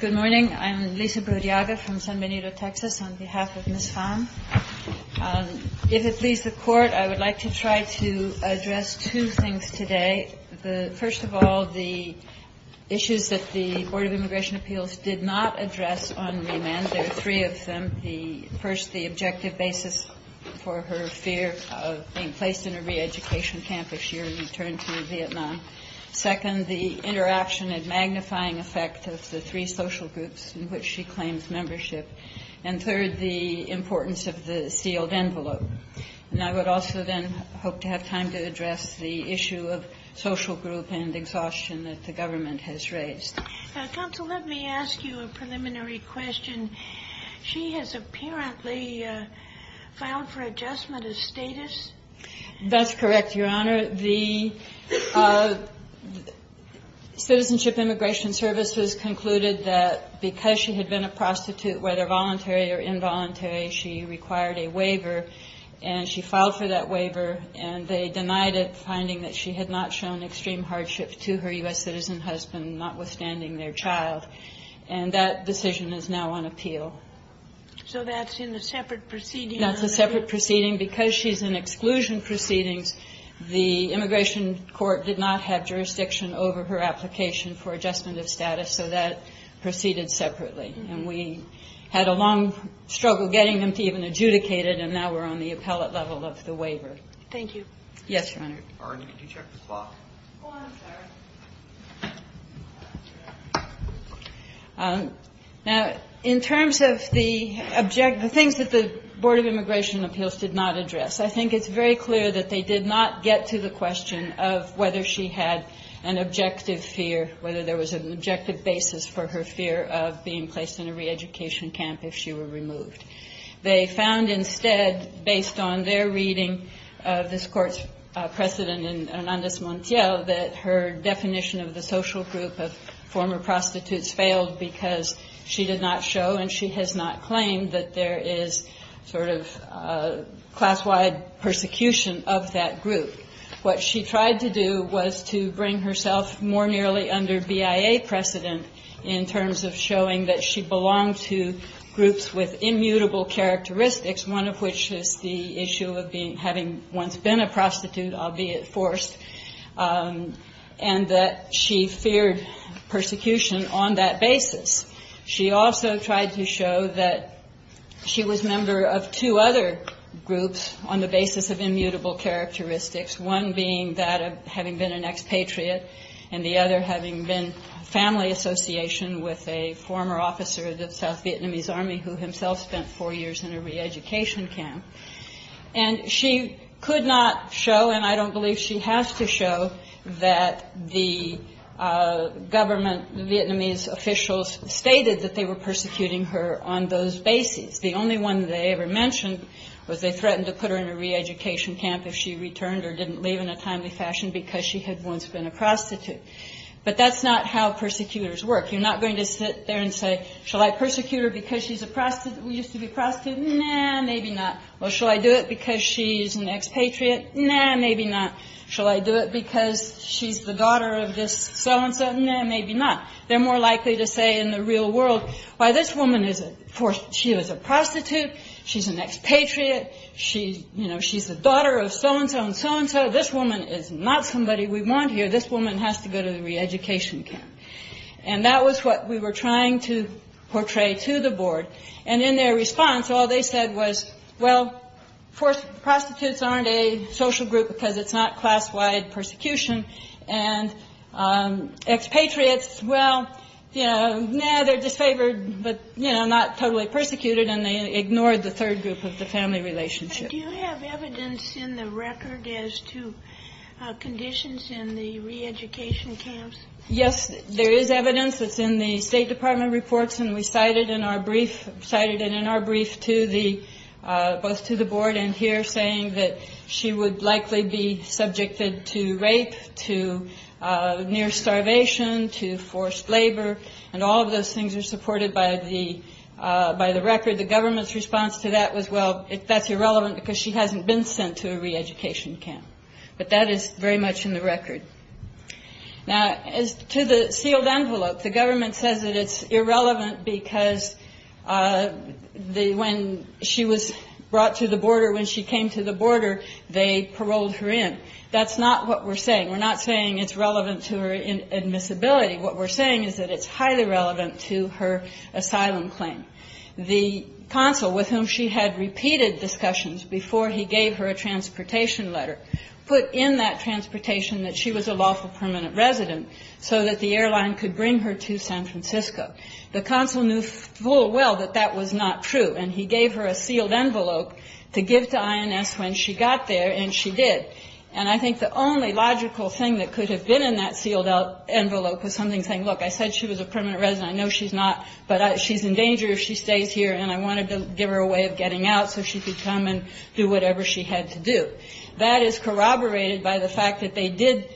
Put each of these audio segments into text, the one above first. Good morning. I'm Lisa Bordiaga from San Benito, Texas, on behalf of Ms. Pham. If it please the Court, I would like to try to address two things today. First of all, the issues that the Board of Immigration Appeals did not address on remand. There are three of them. First, the objective basis for her fear of being placed in a re-education camp if she were to return to Vietnam. Second, the interaction and magnifying effect of the three social groups in which she claims membership. And third, the importance of the sealed envelope. And I would also then hope to have time to address the issue of social group and exhaustion that the government has raised. Counsel, let me ask you a preliminary question. She has apparently filed for adjustment of status. That's correct, Your Honor. The Citizenship Immigration Services concluded that because she had been a prostitute, whether voluntary or involuntary, she required a waiver, and she filed for that waiver, and they denied it, finding that she had not shown extreme hardship to her U.S. citizen husband, notwithstanding their child. And that decision is now on appeal. So that's in a separate proceeding. That's a separate proceeding. Because she's in exclusion proceedings, the immigration court did not have jurisdiction over her application for adjustment of status, so that proceeded separately. And we had a long struggle getting them to even adjudicate it, and now we're on the appellate level of the waiver. Thank you. Yes, Your Honor. Arne, did you check the clock? Go on, Sarah. Now, in terms of the things that the Board of Immigration Appeals did not address, I think it's very clear that they did not get to the question of whether she had an objective fear, whether there was an objective basis for her fear of being placed in a reeducation camp if she were removed. They found instead, based on their reading of this appeal, that her definition of the social group of former prostitutes failed because she did not show and she has not claimed that there is sort of class-wide persecution of that group. What she tried to do was to bring herself more nearly under BIA precedent in terms of showing that she belonged to groups with immutable characteristics, one of which is the issue of having once been a prostitute, albeit forced, and that she feared persecution on that basis. She also tried to show that she was a member of two other groups on the basis of immutable characteristics, one being that of having been an expatriate and the other having been family association with a former officer of the South Vietnamese Army who himself spent four years in a reeducation camp. And she could not show, and I don't believe she has to show, that the government Vietnamese officials stated that they were persecuting her on those basis. The only one they ever mentioned was they threatened to put her in a reeducation camp if she returned or didn't leave in a timely fashion because she had once been a prostitute. But that's not how persecutors work. You're not going to sit there and say, shall I persecute her because she used to be a prostitute? Nah, maybe not. Well, shall I do it because she's an expatriate? Nah, maybe not. Shall I do it because she's the daughter of this so-and-so? Nah, maybe not. They're more likely to say in the real world, why, this woman is a prostitute, she's an expatriate, she's, you know, she's the daughter of so-and-so and so-and-so. This woman is not somebody we want here. This woman has to go to the reeducation camp. And that was what we were trying to portray to the board. And in their response, all they said was, well, prostitutes aren't a social group because it's not class-wide persecution. And expatriates, well, you know, nah, they're disfavored, but, you know, not totally persecuted. And they ignored the third group of the family relationship. Do you have evidence in the record as to conditions in the reeducation camps? Yes, there is evidence that's in the State Department reports. And we cited in our brief, cited it in our brief to the, both to the board and here, saying that she would likely be subjected to rape, to near starvation, to forced labor. And all of those things are supported by the by the record. The government's response to that was, well, that's irrelevant because she hasn't been sent to a reeducation camp. But that is very much in the record. Now, as to the sealed envelope, the government says that it's irrelevant because the when she was brought to the border, when she came to the border, they paroled her in. That's not what we're saying. We're not saying it's relevant to her admissibility. What we're saying is that it's highly relevant to her asylum claim. The consul, with whom she had repeated discussions before he gave her a transportation letter, put in that transportation that she was a lawful permanent resident so that the airline could bring her to San Francisco. The consul knew full well that that was not true. And he gave her a sealed envelope to give to INS when she got there. And she did. And I think the only logical thing that could have been in that sealed envelope was something saying, look, I said she was a lawful permanent resident, she stays here, and I wanted to give her a way of getting out so she could come and do whatever she had to do. That is corroborated by the fact that they did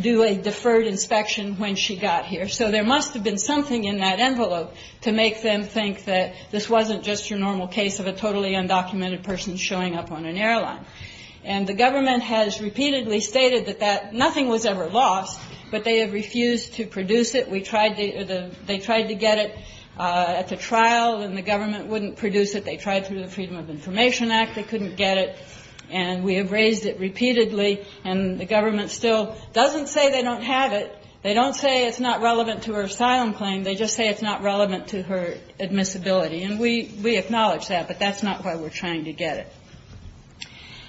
do a deferred inspection when she got here. So there must have been something in that envelope to make them think that this wasn't just your normal case of a totally undocumented person showing up on an airline. And the government has repeatedly stated that that nothing was ever lost, but they have refused to produce it. We tried to get it at the trial, and the government wouldn't produce it. They tried through the Freedom of Information Act. They couldn't get it. And we have raised it repeatedly, and the government still doesn't say they don't have it. They don't say it's not relevant to her asylum claim. They just say it's not relevant to her admissibility. And we acknowledge that, but that's not why we're trying to get it.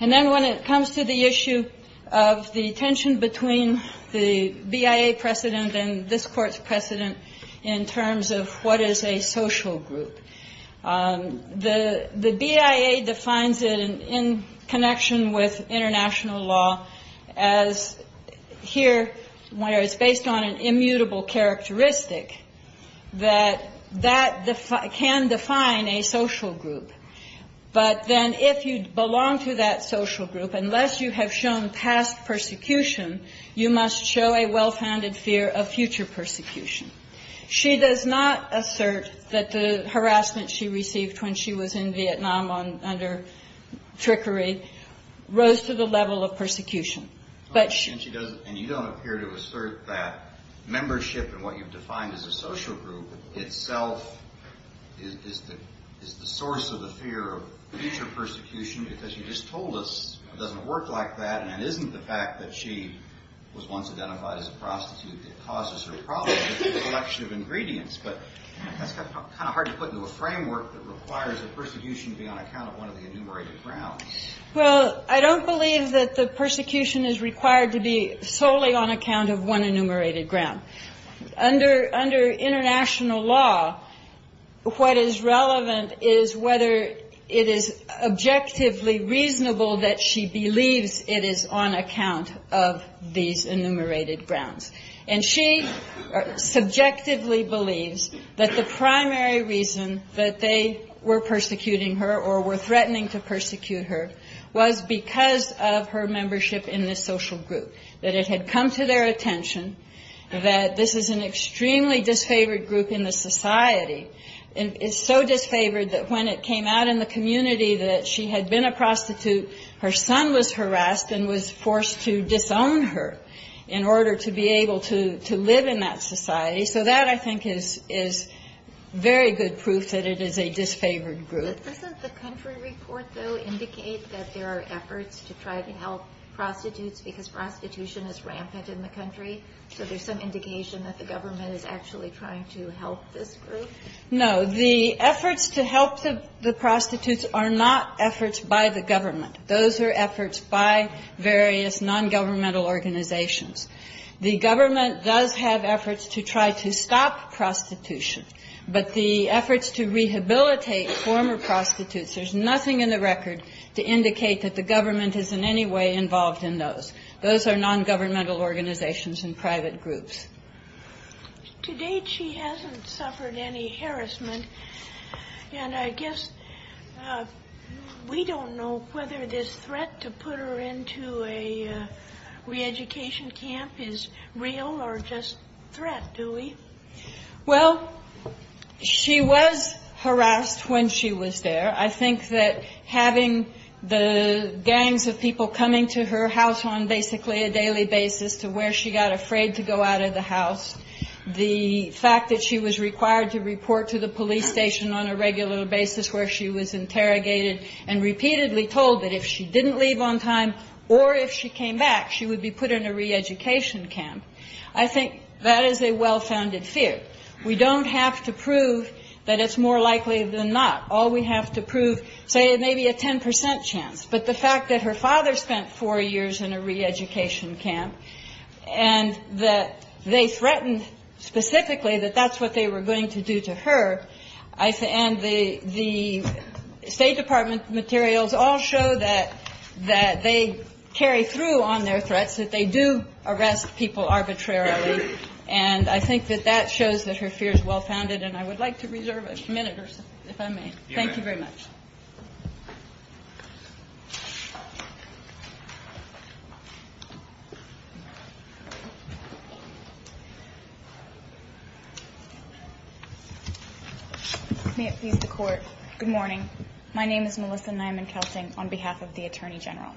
And then when it comes to the issue of the tension between the BIA precedent and this Court's precedent in terms of what is a social group, the BIA defines it in connection with international law as here where it's based on an immutable characteristic that that can define a social group. But then if you belong to that social group, unless you have shown past persecution, you must show a well-founded fear of future persecution. She does not assert that the harassment she received when she was in Vietnam under trickery rose to the level of persecution. And you don't appear to assert that membership in what you've defined as a social group itself is the source of the fear of future persecution, because you just told us it doesn't work like that, and it isn't the fact that she was once identified as a prostitute that causes her problems with the selection of ingredients. But that's kind of hard to put into a framework that requires a persecution to be on account of one of the enumerated grounds. Well, I don't believe that the persecution is required to be solely on account of one enumerated ground. Under international law, what is relevant is whether it is objectively reasonable that she believes it is on account of these enumerated grounds. And she subjectively believes that the primary reason that they were persecuting her or were threatening to persecute her was because of her membership in this social group. That it had come to their attention that this is an extremely disfavored group in the society. And it's so disfavored that when it came out in the community that she had been a prostitute, her son was harassed and was forced to disown her in order to be able to live in that society. So that, I think, is very good proof that it is a disfavored group. Doesn't the country report, though, indicate that there are efforts to try to help prostitutes because prostitution is rampant in the country? So there's some indication that the government is actually trying to help this group? No. The efforts to help the prostitutes are not efforts by the government. Those are efforts by various nongovernmental organizations. The government does have efforts to try to stop prostitution. But the efforts to rehabilitate former prostitutes, there's nothing in the record to indicate that the government is in any way involved in those. Those are nongovernmental organizations and private groups. To date, she hasn't suffered any harassment. And I guess we don't know whether this threat to put her into a reeducation camp is real or just threat, do we? Well, she was harassed when she was there. I think that having the gangs of people coming to her house on basically a daily basis to where she got afraid to go out of the house, the fact that she was required to report to the police station on a regular basis where she was interrogated and repeatedly told that if she didn't leave on time or if she came back, she would be put in a reeducation camp. I think that is a well-founded fear. We don't have to prove that it's more likely than not. All we have to prove, say, maybe a 10 percent chance. But the fact that her father spent four years in a reeducation camp and that they threatened specifically that that's what they were going to do to her, and the State Department materials all show that they carry through on their threats, that they do arrest people arbitrarily. And I think that that shows that her fear is well-founded. And I would like to reserve a minute or so, if I may. Thank you very much. May it please the Court. Good morning. My name is Melissa Nyman-Kelting on behalf of the Attorney General.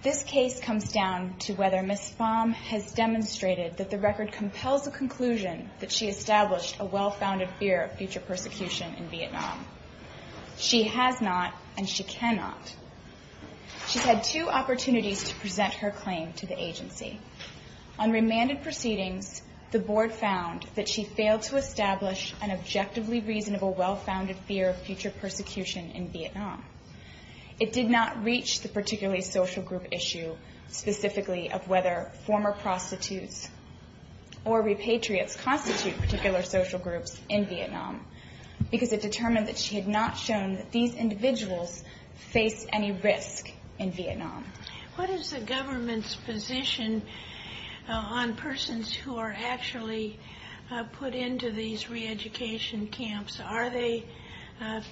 This case comes down to whether Ms. Pham has demonstrated that the record compels a conclusion that she established a well-founded fear of future persecution in Vietnam. She has not, and she cannot. She's had two opportunities to present her claim to the agency. On remanded proceedings, the Board found that she failed to establish an objectively reasonable well-founded fear of future persecution in Vietnam. It did not reach the particularly social group issue, specifically of whether former prostitutes or repatriates constitute particular social groups in Vietnam, because it determined that she had not shown that these individuals face any risk in Vietnam. What is the government's position on persons who are actually put into these reeducation camps? Are they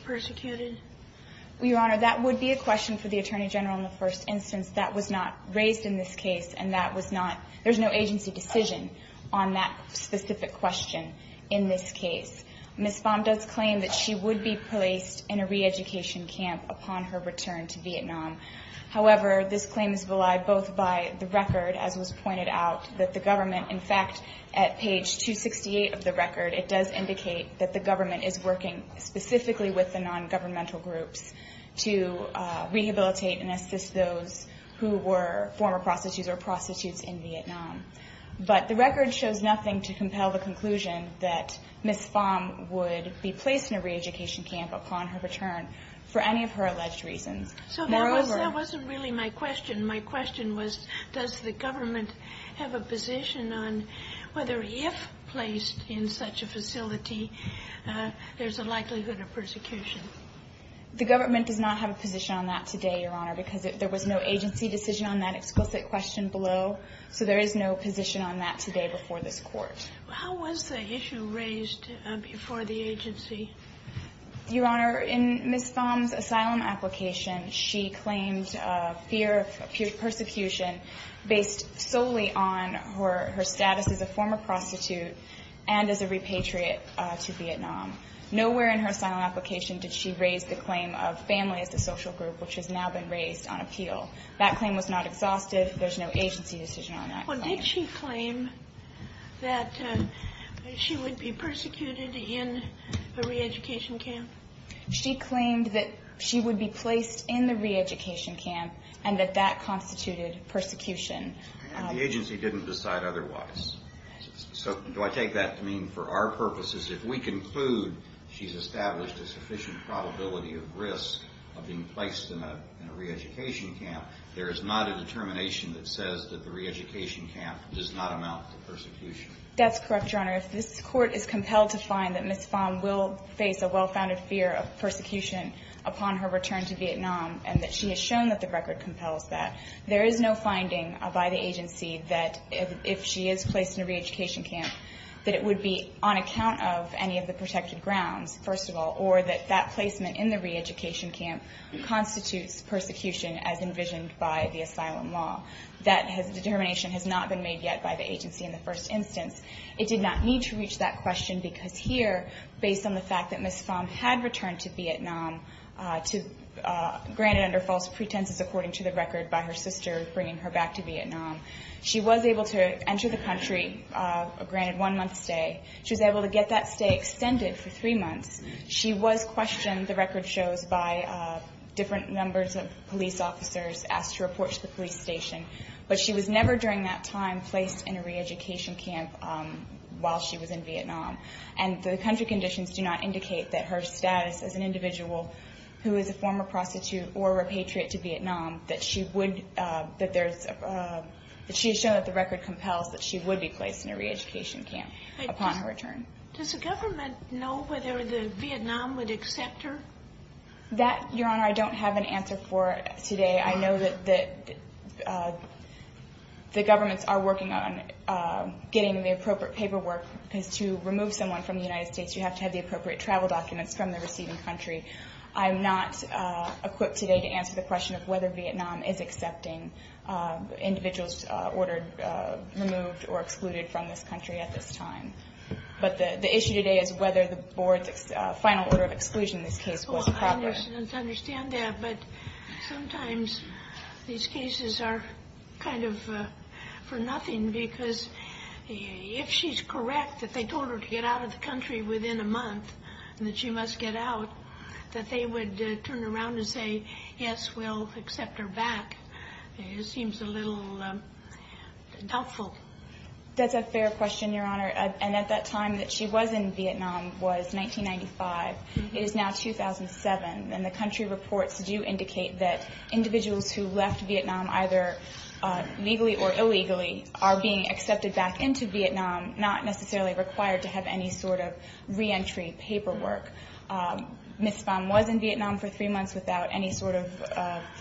persecuted? Your Honor, that would be a question for the Attorney General in the first instance. That was not raised in this case, and that was not – there's no agency decision on that specific question in this case. Ms. Pham does claim that she would be placed in a reeducation camp upon her return to Vietnam. However, this claim is relied both by the record, as was pointed out, that the government – in fact, at page 268 of the record, it does indicate that the government is working specifically with the non-governmental groups to rehabilitate and assist those who were former prostitutes or prostitutes in Vietnam. But the record shows nothing to compel the conclusion that Ms. Pham would be placed in a reeducation camp upon her return for any of her alleged reasons. So that wasn't really my question. My question was, does the government have a position on whether, if placed in such a facility, there's a likelihood of persecution? The government does not have a position on that today, Your Honor, because there was no agency decision on that explicit question below, so there is no position on that today before this Court. How was the issue raised before the agency? Your Honor, in Ms. Pham's asylum application, she claimed fear of persecution based solely on her status as a former prostitute and as a repatriate to Vietnam. Nowhere in her asylum application did she raise the claim of family as a social group, which has now been raised on appeal. That claim was not exhaustive. There's no agency decision on that claim. Well, did she claim that she would be persecuted in a reeducation camp? She claimed that she would be placed in the reeducation camp and that that constituted persecution. The agency didn't decide otherwise. So do I take that to mean for our purposes, if we conclude she's established a sufficient probability of risk of being placed in a reeducation camp, there is not a determination that says that the reeducation camp does not amount to persecution? That's correct, Your Honor. If this Court is compelled to find that Ms. Pham will face a well-founded fear of persecution upon her return to Vietnam and that she has shown that the record compels that, there is no finding by the agency that if she is placed in a reeducation camp, that it would be on account of any of the protected grounds, first of all, or that that placement in the reeducation camp constitutes persecution as envisioned by the asylum law. That determination has not been made yet by the agency in the first instance. It did not need to reach that question because here, based on the fact that Ms. Pham had returned to Vietnam, granted under false pretenses according to the record by her sister bringing her back to Vietnam, she was able to enter the country, granted one-month stay. She was able to get that stay extended for three months. She was questioned, the record shows, by different numbers of police officers asked to report to the police station. But she was never, during that time, placed in a reeducation camp while she was in Vietnam. And the country conditions do not indicate that her status as an individual who is a former prostitute or a repatriate to Vietnam, that she would, that there's, that she has shown that the record compels that she would be placed in a reeducation camp upon her return. Does the government know whether Vietnam would accept her? That, Your Honor, I don't have an answer for today. I know that the governments are working on getting the appropriate paperwork to remove someone from the United States. You have to have the appropriate travel documents from the receiving country. I'm not equipped today to answer the question of whether Vietnam is accepting individuals ordered, removed or excluded from this country at this time. But the issue today is whether the board's final order of exclusion in this case was appropriate. I understand that, but sometimes these cases are kind of for nothing because if she's correct, that they told her to get out of the country within a month and that she must get out, that they would turn around and say, yes, we'll accept her back. It seems a little doubtful. That's a fair question, Your Honor. And at that time that she was in Vietnam was 1995. It is now 2007. And the country reports do indicate that individuals who left Vietnam either legally or illegally are being accepted back into Vietnam, not necessarily required to have any sort of reentry paperwork. Ms. Pham was in Vietnam for three months without any sort of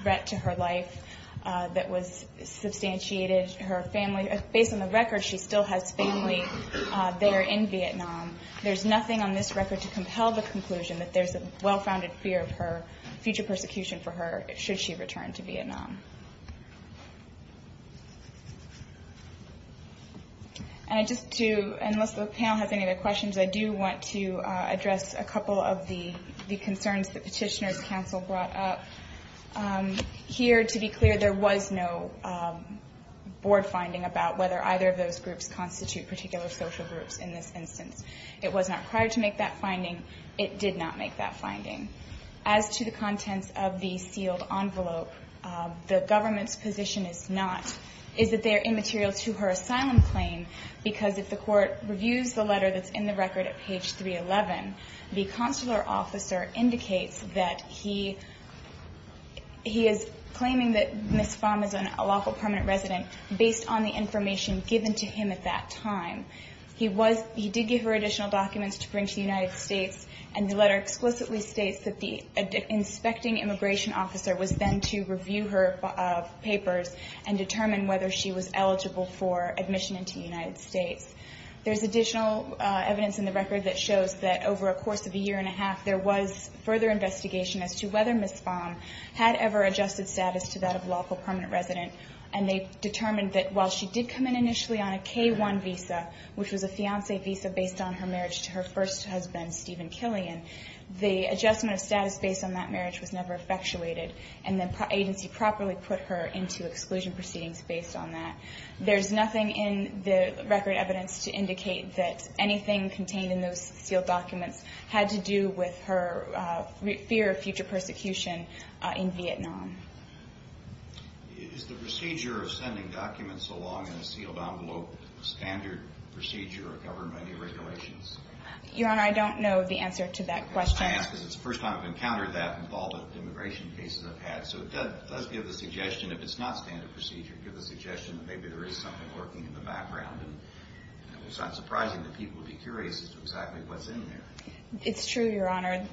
threat to her life that was substantiated. Her family, based on the record, she still has family there in Vietnam. There's nothing on this record to compel the conclusion that there's a well-founded fear of her future persecution for her should she return to Vietnam. And I just do, unless the panel has any other questions, I do want to address a couple of the concerns that Petitioner's Counsel brought up. Here, to be clear, there was no board finding about whether either of those groups constitute particular social groups in this instance. It was not required to make that finding. It did not make that finding. As to the contents of the sealed envelope, the government's position is not, is that they are immaterial to her asylum claim because if the court reviews the letter that's in the record at page 311, the consular officer indicates that he is claiming that Ms. Pham is a local permanent resident based on the information given to him at that time. He did give her additional documents to bring to the United States, and the letter explicitly states that the inspecting immigration officer was then to review her papers and determine whether she was eligible for admission into the United States. There's additional evidence in the record that shows that over a course of a year and a half, there was further investigation as to whether Ms. Pham had ever adjusted status to that of a local permanent resident, and they determined that while she did come in initially on a K-1 visa, which was a fiancé visa based on her marriage to her first husband, Stephen Killian, the adjustment of status based on that marriage was never effectuated, and the agency properly put her into exclusion proceedings based on that. There's nothing in the record evidence to indicate that anything contained in those sealed documents had to do with her fear of future persecution in Vietnam. Is the procedure of sending documents along in a sealed envelope a standard procedure of government regulations? Your Honor, I don't know the answer to that question. I ask because it's the first time I've encountered that in all the immigration cases I've had, so it does give the suggestion, if it's not standard procedure, maybe there is something working in the background, and it's not surprising that people would be curious as to exactly what's in there. It's true, Your Honor.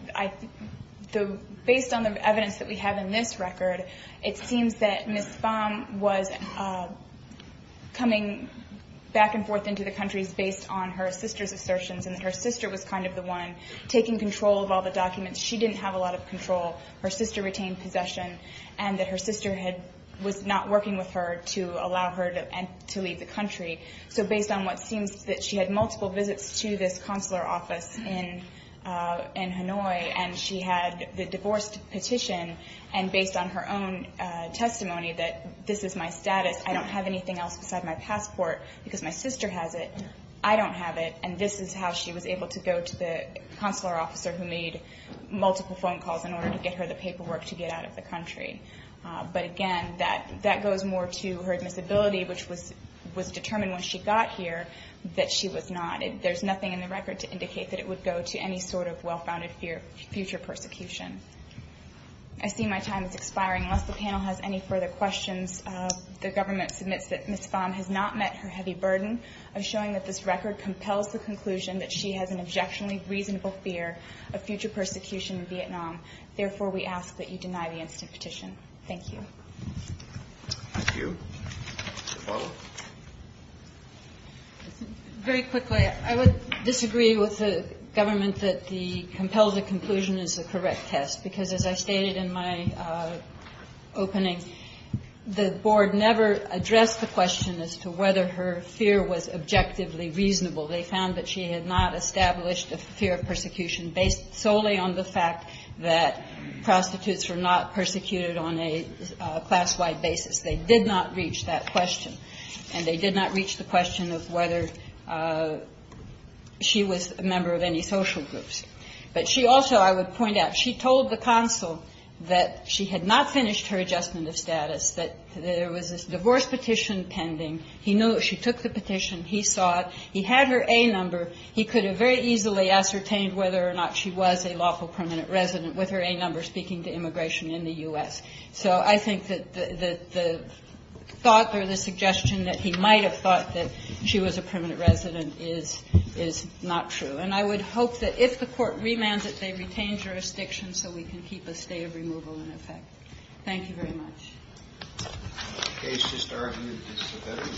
Based on the evidence that we have in this record, it seems that Ms. Pham was coming back and forth into the country based on her sister's assertions, and that her sister was kind of the one taking control of all the documents. She didn't have a lot of control. Her sister retained possession, and that her sister was not working with her, to allow her to leave the country. So based on what seems that she had multiple visits to this consular office in Hanoi, and she had the divorce petition, and based on her own testimony that this is my status, I don't have anything else beside my passport, because my sister has it, I don't have it, and this is how she was able to go to the consular officer who made multiple phone calls in order to get her the paperwork to get out of the country. But again, that goes more to her admissibility, which was determined when she got here, that she was not. There's nothing in the record to indicate that it would go to any sort of well-founded future persecution. I see my time is expiring. Unless the panel has any further questions, the government submits that Ms. Pham has not met her heavy burden of showing that this record compels the conclusion that she has an objectionably reasonable fear of future persecution in Vietnam. Therefore, we ask that you deny the instant petition. Thank you. Very quickly, I would disagree with the government that the compels the conclusion is a correct test, because as I stated in my opening, the board never addressed the question as to whether her fear was objectively reasonable. They found that she had not established a fear of persecution based solely on the fact that prostitutes were not persecuted on a class-wide basis. They did not reach that question, and they did not reach the question of whether she was a member of any social groups. But she also, I would point out, she told the consul that she had not finished her adjustment of status, that there was a divorce petition pending. He knew she took the petition. He saw it. He had her A number. He could have very easily ascertained whether or not she was a lawful permanent resident with her A number speaking to immigration in the U.S. So I think that the thought or the suggestion that he might have thought that she was a permanent resident is not true. And I would hope that if the Court remands it, they retain jurisdiction so we can keep a stay of removal in effect. Thank you very much. Thank you.